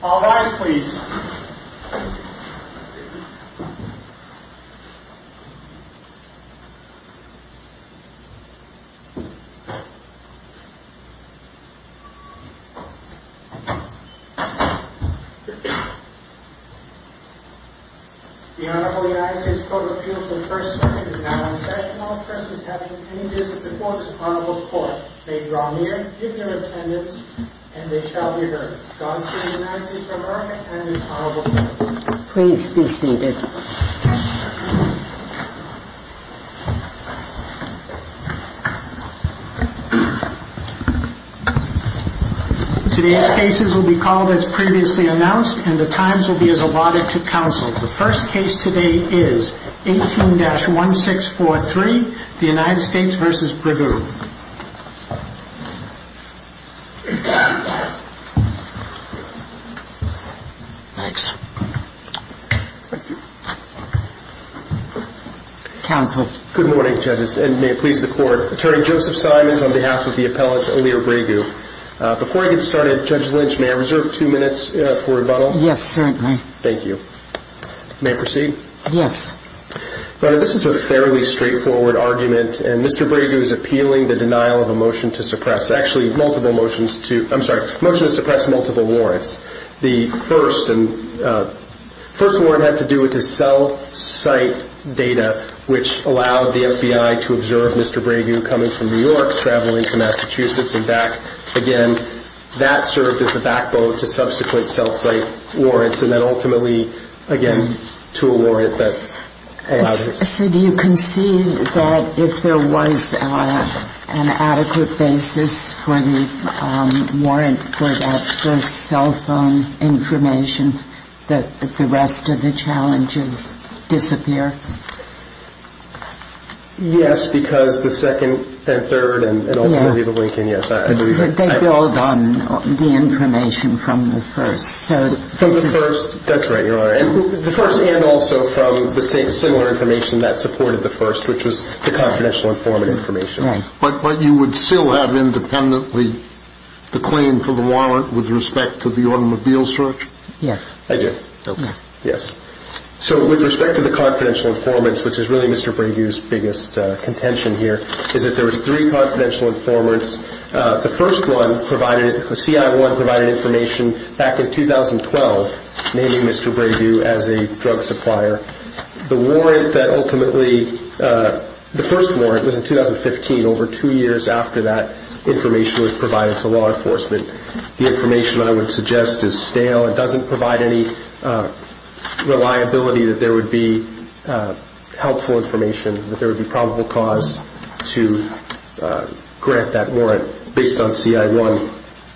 The Honorable United States Court of Appeals in the First Circuit is now in session. All persons having any business before this Honorable Court may draw near, give their attendance, and they shall be heard. Godspeed, United States of America, and this Honorable Court. Please be seated. Today's cases will be called as previously announced, and the times will be as allotted to counsel. The first case today is 18-1643, the United States v. Bregu. Counsel. Good morning, judges, and may it please the Court. Attorney Joseph Simons on behalf of the appellate O'Lear Bregu. Before I get started, Judge Lynch, may I reserve two minutes for rebuttal? Yes, certainly. Thank you. May I proceed? Yes. This is a fairly straightforward argument, and Mr. Bregu is appealing the denial of a motion to suppress multiple warrants. The first warrant had to do with the cell site data, which allowed the FBI to observe Mr. Bregu coming from New York, traveling to Massachusetts, Again, that served as the backbone to subsequent cell site warrants, and then ultimately, again, to a warrant that allowed it. So do you concede that if there was an adequate basis for the warrant for that first cell phone information, that the rest of the challenges disappear? Yes, because the second and third and ultimately the Lincoln, yes. They build on the information from the first. From the first. That's right, Your Honor. The first and also from the similar information that supported the first, which was the confidential informant information. Right. But you would still have independently the claim for the warrant with respect to the automobile search? Yes. I do. Okay. Yes. So with respect to the confidential informants, which is really Mr. Bregu's biggest contention here, is that there was three confidential informants. The first one provided it, the CI1 provided information back in 2012, naming Mr. Bregu as a drug supplier. The warrant that ultimately, the first warrant was in 2015. Over two years after that, information was provided to law enforcement. The information I would suggest is stale. It doesn't provide any reliability that there would be helpful information, that there would be probable cause to grant that warrant based on CI1.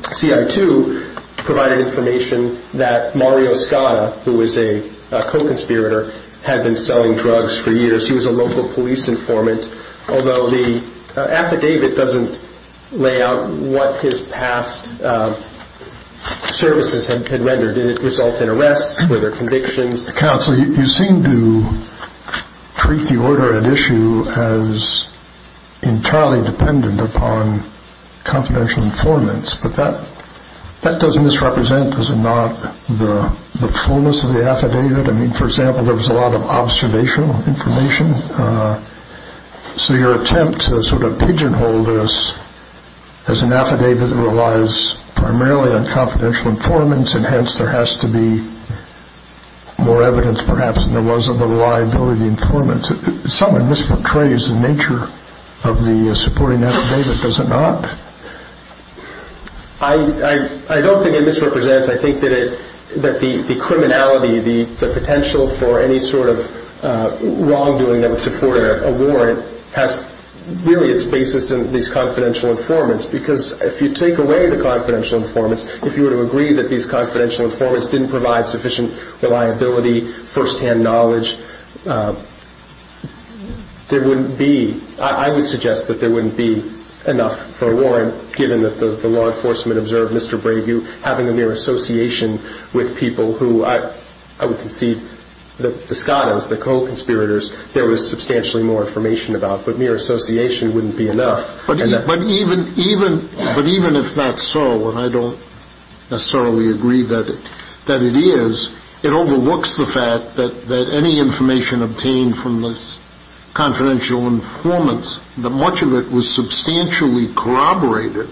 CI2 provided information that Mario Scotta, who was a co-conspirator, had been selling drugs for years. He was a local police informant. Although the affidavit doesn't lay out what his past services had rendered. Did it result in arrests? Were there convictions? Counsel, you seem to treat the order at issue as entirely dependent upon confidential informants. But that doesn't misrepresent, does it not, the fullness of the affidavit? I mean, for example, there was a lot of observational information. So your attempt to sort of pigeonhole this as an affidavit that relies primarily on confidential informants, and hence there has to be more evidence perhaps than there was of the reliability informants, somewhat misportrays the nature of the supporting affidavit, does it not? I don't think it misrepresents. I think that the criminality, the potential for any sort of wrongdoing that would support a warrant, has really its basis in these confidential informants. Because if you take away the confidential informants, if you were to agree that these confidential informants didn't provide sufficient reliability, first-hand knowledge, there wouldn't be, I would suggest that there wouldn't be enough for a warrant, given that the law enforcement observed Mr. Brayview having a mere association with people who, I would concede, the Scottis, the co-conspirators, there was substantially more information about. But mere association wouldn't be enough. But even if that's so, and I don't necessarily agree that it is, it overlooks the fact that any information obtained from the confidential informants, that much of it was substantially corroborated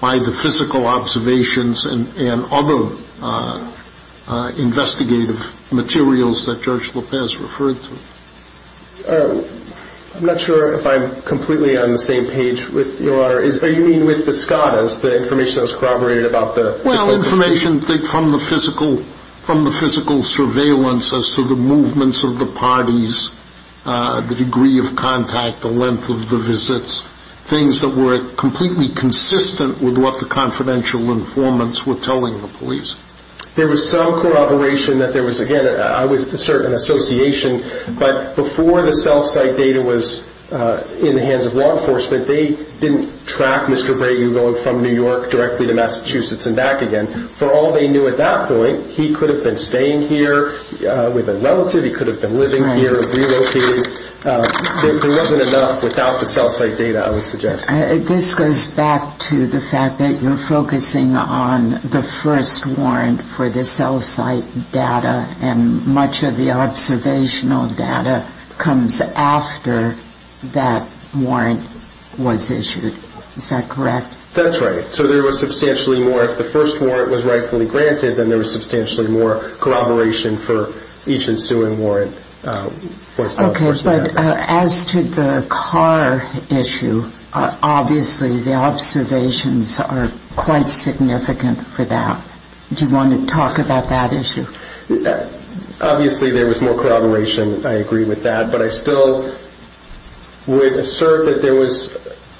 by the physical observations and other investigative materials that Judge Lopez referred to. I'm not sure if I'm completely on the same page with Your Honor. Are you meaning with the Scottis, the information that was corroborated about the- Well, information from the physical surveillance as to the movements of the parties, the degree of contact, the length of the visits, things that were completely consistent with what the confidential informants were telling the police? There was some corroboration that there was, again, I would assert an association, but before the cell site data was in the hands of law enforcement, they didn't track Mr. Brayview going from New York directly to Massachusetts and back again. For all they knew at that point, he could have been staying here with a relative, he could have been living here, relocated. There wasn't enough without the cell site data, I would suggest. This goes back to the fact that you're focusing on the first warrant for the cell site data and much of the observational data comes after that warrant was issued. Is that correct? That's right. So there was substantially more, if the first warrant was rightfully granted, then there was substantially more corroboration for each ensuing warrant. Okay, but as to the car issue, obviously the observations are quite significant for that. Do you want to talk about that issue? Obviously there was more corroboration, I agree with that, but I still would assert that there was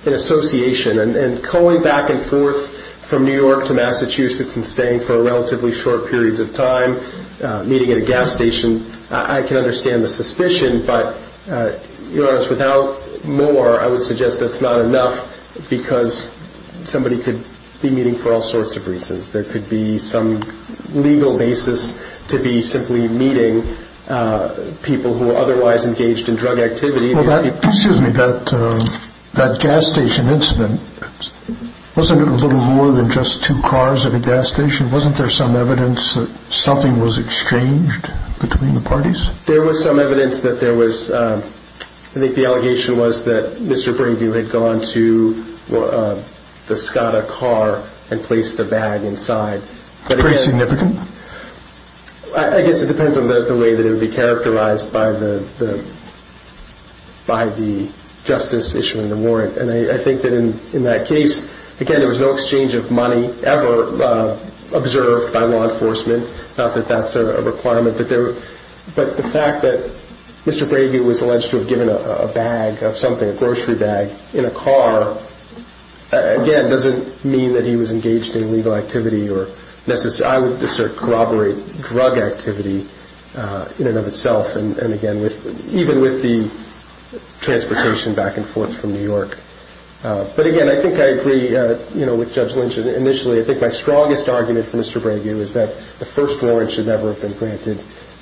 an association, and going back and forth from New York to Massachusetts and staying for relatively short periods of time, meeting at a gas station, I can understand the suspicion, but to be honest, without more, I would suggest that's not enough because somebody could be meeting for all sorts of reasons. There could be some legal basis to be simply meeting people who are otherwise engaged in drug activity. Excuse me. That gas station incident, wasn't it a little more than just two cars at a gas station? Wasn't there some evidence that something was exchanged between the parties? There was some evidence that there was. I think the allegation was that Mr. Bringview had gone to the Skoda car and placed a bag inside. Very significant? I guess it depends on the way that it would be characterized by the justice issuing the warrant. I think that in that case, again, there was no exchange of money ever observed by law enforcement. Not that that's a requirement, but the fact that Mr. Bringview was alleged to have given a bag of something, a grocery bag, in a car, again, doesn't mean that he was engaged in illegal activity. I would discern corroborate drug activity in and of itself, and again, even with the transportation back and forth from New York. But again, I think I agree with Judge Lynch initially. I think my strongest argument for Mr. Bringview is that the first warrant should never have been granted,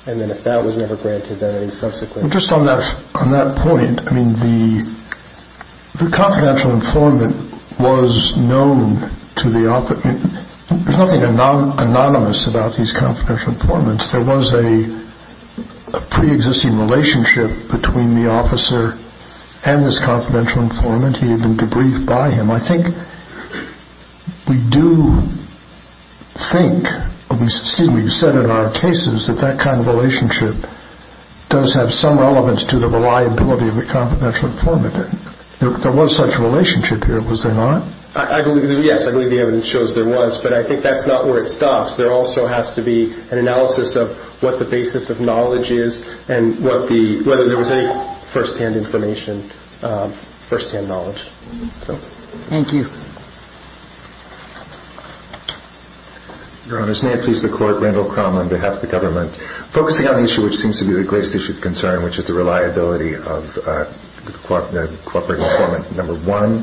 and then if that was never granted, then a subsequent. Just on that point, the confidential informant was known to the opposite. There's nothing anonymous about these confidential informants. There was a preexisting relationship between the officer and this confidential informant. He had been debriefed by him. I think we do think, excuse me, we've said in our cases, that that kind of relationship does have some relevance to the reliability of the confidential informant. There was such a relationship here, was there not? Yes, I believe the evidence shows there was, but I think that's not where it stops. There also has to be an analysis of what the basis of knowledge is and whether there was any first-hand information, first-hand knowledge. Thank you. Your Honors, may it please the Court, Randall Cromwell on behalf of the government. Focusing on the issue which seems to be the greatest issue of concern, which is the reliability of the cooperating informant number one,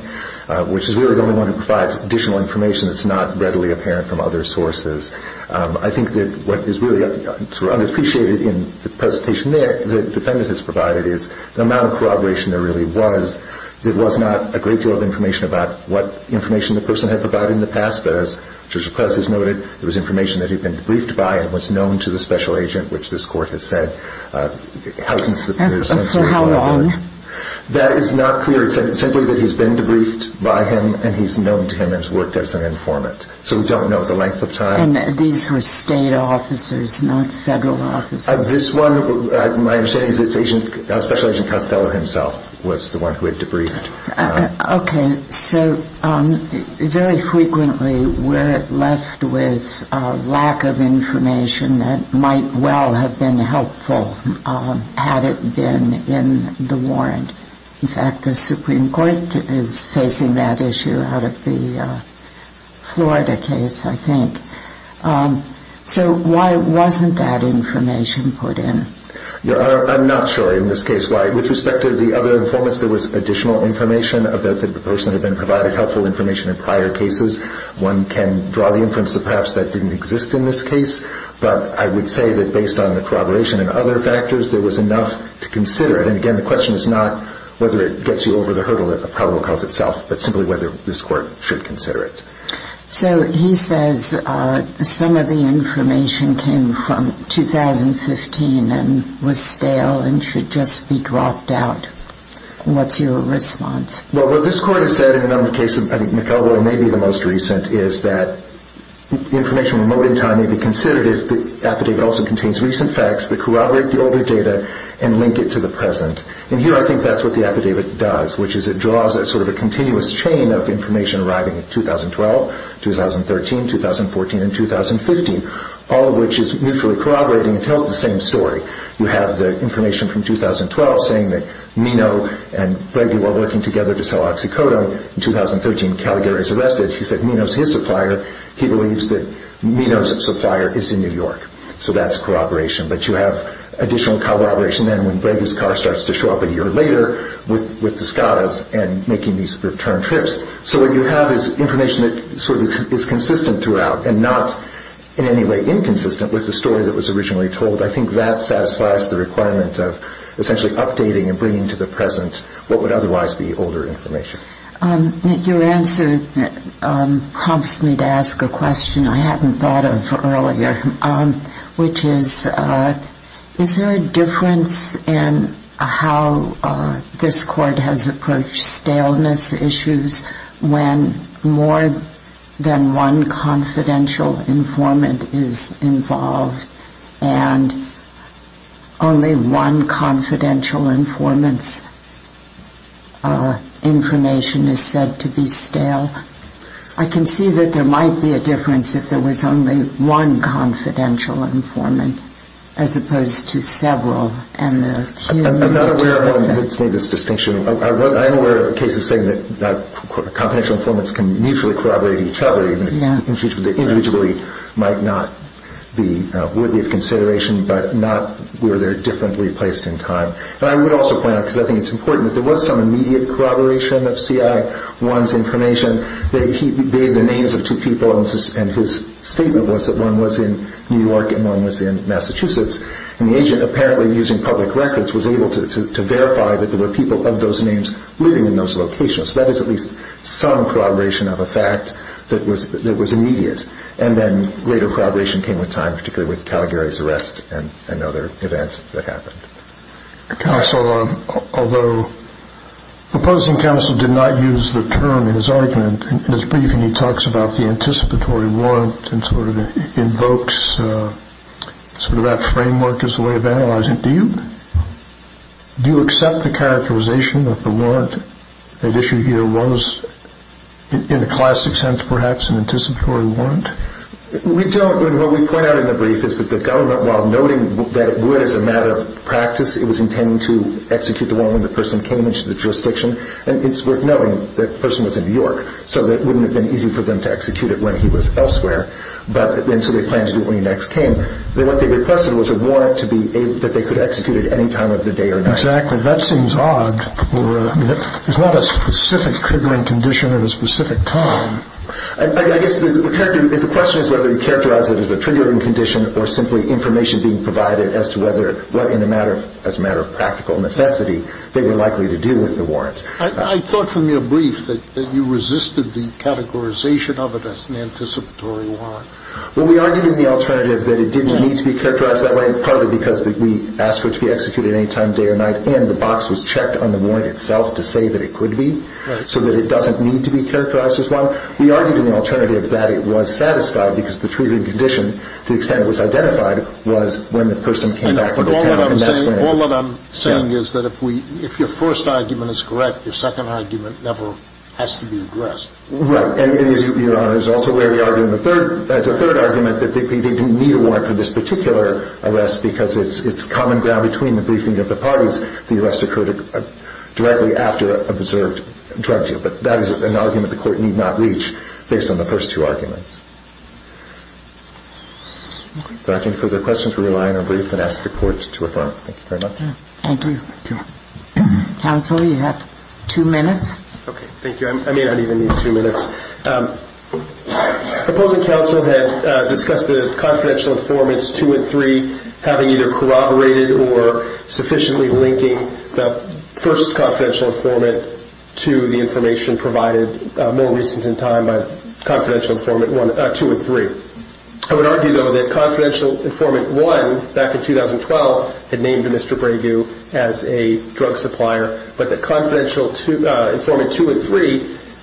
which is really the only one who provides additional information that's not readily apparent from other sources, I think that what is really sort of unappreciated in the presentation the defendant has provided is the amount of corroboration there really was. There was not a great deal of information about what information the person had provided in the past, but as Judge O'Kless has noted, there was information that he'd been debriefed by and was known to the special agent, which this Court has said, how can this appear to be true? So how long? That is not clear. It's simply that he's been debriefed by him and he's known to him and has worked as an informant. So we don't know the length of time. And these were state officers, not federal officers. This one, my understanding is it's special agent Costello himself was the one who had debriefed. Okay. So very frequently we're left with a lack of information that might well have been helpful had it been in the warrant. In fact, the Supreme Court is facing that issue out of the Florida case, I think. So why wasn't that information put in? I'm not sure in this case why. With respect to the other informants, there was additional information about the person that had been provided helpful information in prior cases. One can draw the inference that perhaps that didn't exist in this case, but I would say that based on the corroboration and other factors, there was enough to consider it. And again, the question is not whether it gets you over the hurdle of probable cause itself, but simply whether this Court should consider it. So he says some of the information came from 2015 and was stale and should just be dropped out. What's your response? Well, what this Court has said in a number of cases, I think McElroy may be the most recent, is that the information may be considered if the affidavit also contains recent facts that corroborate the older data and link it to the present. And here I think that's what the affidavit does, which is it draws sort of a continuous chain of information arriving in 2012, 2013, 2014, and 2015, all of which is mutually corroborating and tells the same story. You have the information from 2012 saying that Minow and Bregula were working together to sell oxycodone. In 2013, Calgary was arrested. He said Minow is his supplier. He believes that Minow's supplier is in New York. So that's corroboration. But you have additional corroboration then when Bregula's car starts to show up a year later with the Scottis and making these return trips. So what you have is information that sort of is consistent throughout and not in any way inconsistent with the story that was originally told. I think that satisfies the requirement of essentially updating and bringing to the present what would otherwise be older information. Your answer prompts me to ask a question I hadn't thought of earlier, which is is there a difference in how this court has approached staleness issues when more than one confidential informant is involved and only one confidential informant's information is said to be stale? I can see that there might be a difference if there was only one confidential informant as opposed to several and the cumulative effect. I'm not aware of anyone who has made this distinction. I'm aware of cases saying that confidential informants can mutually corroborate each other even if they individually might not be worthy of consideration but not where they're differently placed in time. And I would also point out, because I think it's important, that there was some immediate corroboration of CI1's information. He gave the names of two people and his statement was that one was in New York and one was in Massachusetts. And the agent, apparently using public records, was able to verify that there were people of those names living in those locations. So that is at least some corroboration of a fact that was immediate. And then greater corroboration came with time, particularly with Calgary's arrest and other events that happened. Counsel, although the opposing counsel did not use the term in his argument in his briefing, he talks about the anticipatory warrant and sort of invokes sort of that framework as a way of analyzing it. Do you accept the characterization that the warrant at issue here was, in a classic sense perhaps, an anticipatory warrant? We don't. What we point out in the brief is that the government, while noting that it would as a matter of practice, it was intending to execute the warrant when the person came into the jurisdiction. And it's worth noting that the person was in New York, so it wouldn't have been easy for them to execute it when he was elsewhere. And so they planned to do it when he next came. I guess the question is whether you characterize it as a triggering condition or simply information being provided as to whether, as a matter of practical necessity, they were likely to do with the warrant. I thought from your brief that you resisted the categorization of it as an anticipatory warrant. Well, we argued in the alternative that it did not exist. It was a warrant. It was a warrant. It was a warrant. It didn't need to be characterized that way, partly because we asked for it to be executed at any time, day or night, and the box was checked on the warrant itself to say that it could be, so that it doesn't need to be characterized as one. We argued in the alternative that it was satisfied because the triggering condition, to the extent it was identified, was when the person came back from the pen and that's when it was. All that I'm saying is that if your first argument is correct, your second argument never has to be addressed. Right. And, Your Honor, there's also where we argue as a third argument that they didn't need a warrant for this particular arrest because it's common ground between the briefing of the parties. The arrest occurred directly after a preserved drug deal. But that is an argument the Court need not reach based on the first two arguments. If there aren't any further questions, we rely on our brief and ask the Court to affirm. Thank you very much. Thank you. Counsel, you have two minutes. Okay, thank you. I may not even need two minutes. Opposing counsel had discussed the confidential informants 2 and 3 having either corroborated or sufficiently linking the first confidential informant to the information provided more recent in time by confidential informant 2 and 3. I would argue, though, that confidential informant 1, back in 2012, had named Mr. Bragu as a drug supplier, but that confidential informant 2 and 3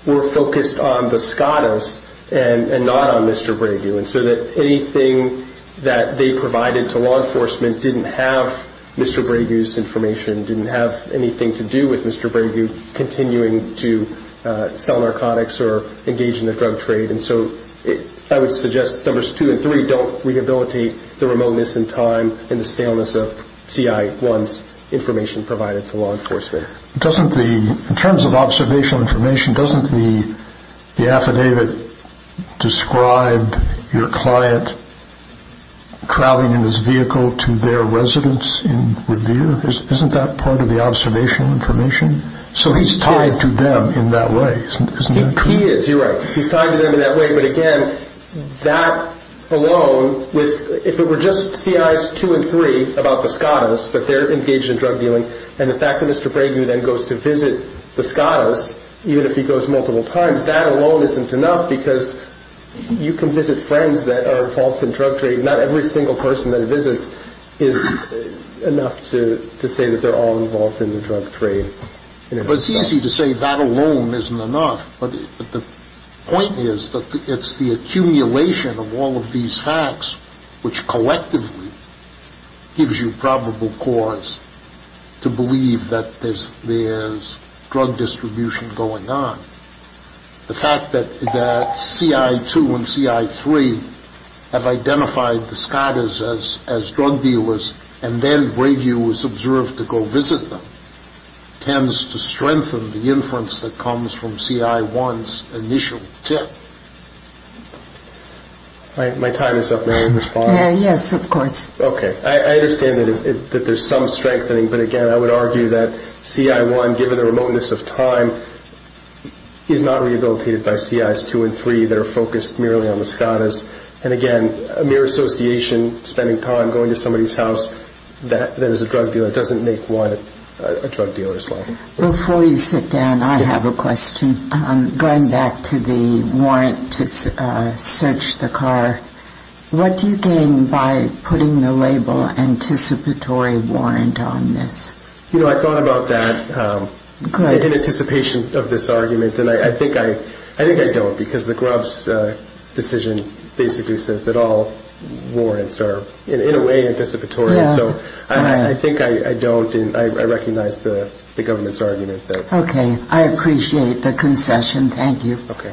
were focused on the SCOTUS and not on Mr. Bragu, and so that anything that they provided to law enforcement didn't have Mr. Bragu's information, didn't have anything to do with Mr. Bragu continuing to sell narcotics or engage in the drug trade. And so I would suggest numbers 2 and 3 don't rehabilitate the remoteness in time and the staleness of C.I. 1's information provided to law enforcement. In terms of observational information, doesn't the affidavit describe your client traveling in his vehicle to their residence in Revere? Isn't that part of the observational information? So he's tied to them in that way, isn't that correct? He is. You're right. He's tied to them in that way. But again, that alone, if it were just C.I. 2 and 3 about the SCOTUS, that they're engaged in drug dealing, and the fact that Mr. Bragu then goes to visit the SCOTUS, even if he goes multiple times, that alone isn't enough because you can visit friends that are involved in drug trade. Not every single person that he visits is enough to say that they're all involved in the drug trade. But it's easy to say that alone isn't enough. But the point is that it's the accumulation of all of these facts, which collectively gives you probable cause to believe that there's drug distribution going on. The fact that C.I. 2 and C.I. 3 have identified the SCOTUS as drug dealers and then Bragu is observed to go visit them tends to strengthen the inference that comes from C.I. 1's initial tip. My time is up. May I respond? Yes, of course. Okay. I understand that there's some strengthening. But again, I would argue that C.I. 1, given the remoteness of time, is not rehabilitated by C.I. 2 and 3 that are focused merely on the SCOTUS. And again, a mere association, spending time going to somebody's house, that is a drug dealer, doesn't make one a drug dealer as well. Before you sit down, I have a question. Going back to the warrant to search the car, what do you gain by putting the label anticipatory warrant on this? You know, I thought about that in anticipation of this argument, and I think I don't because the Grubbs decision basically says that all warrants are in a way anticipatory. So I think I don't, and I recognize the government's argument there. Okay. I appreciate the concession. Thank you. Okay. Thank you.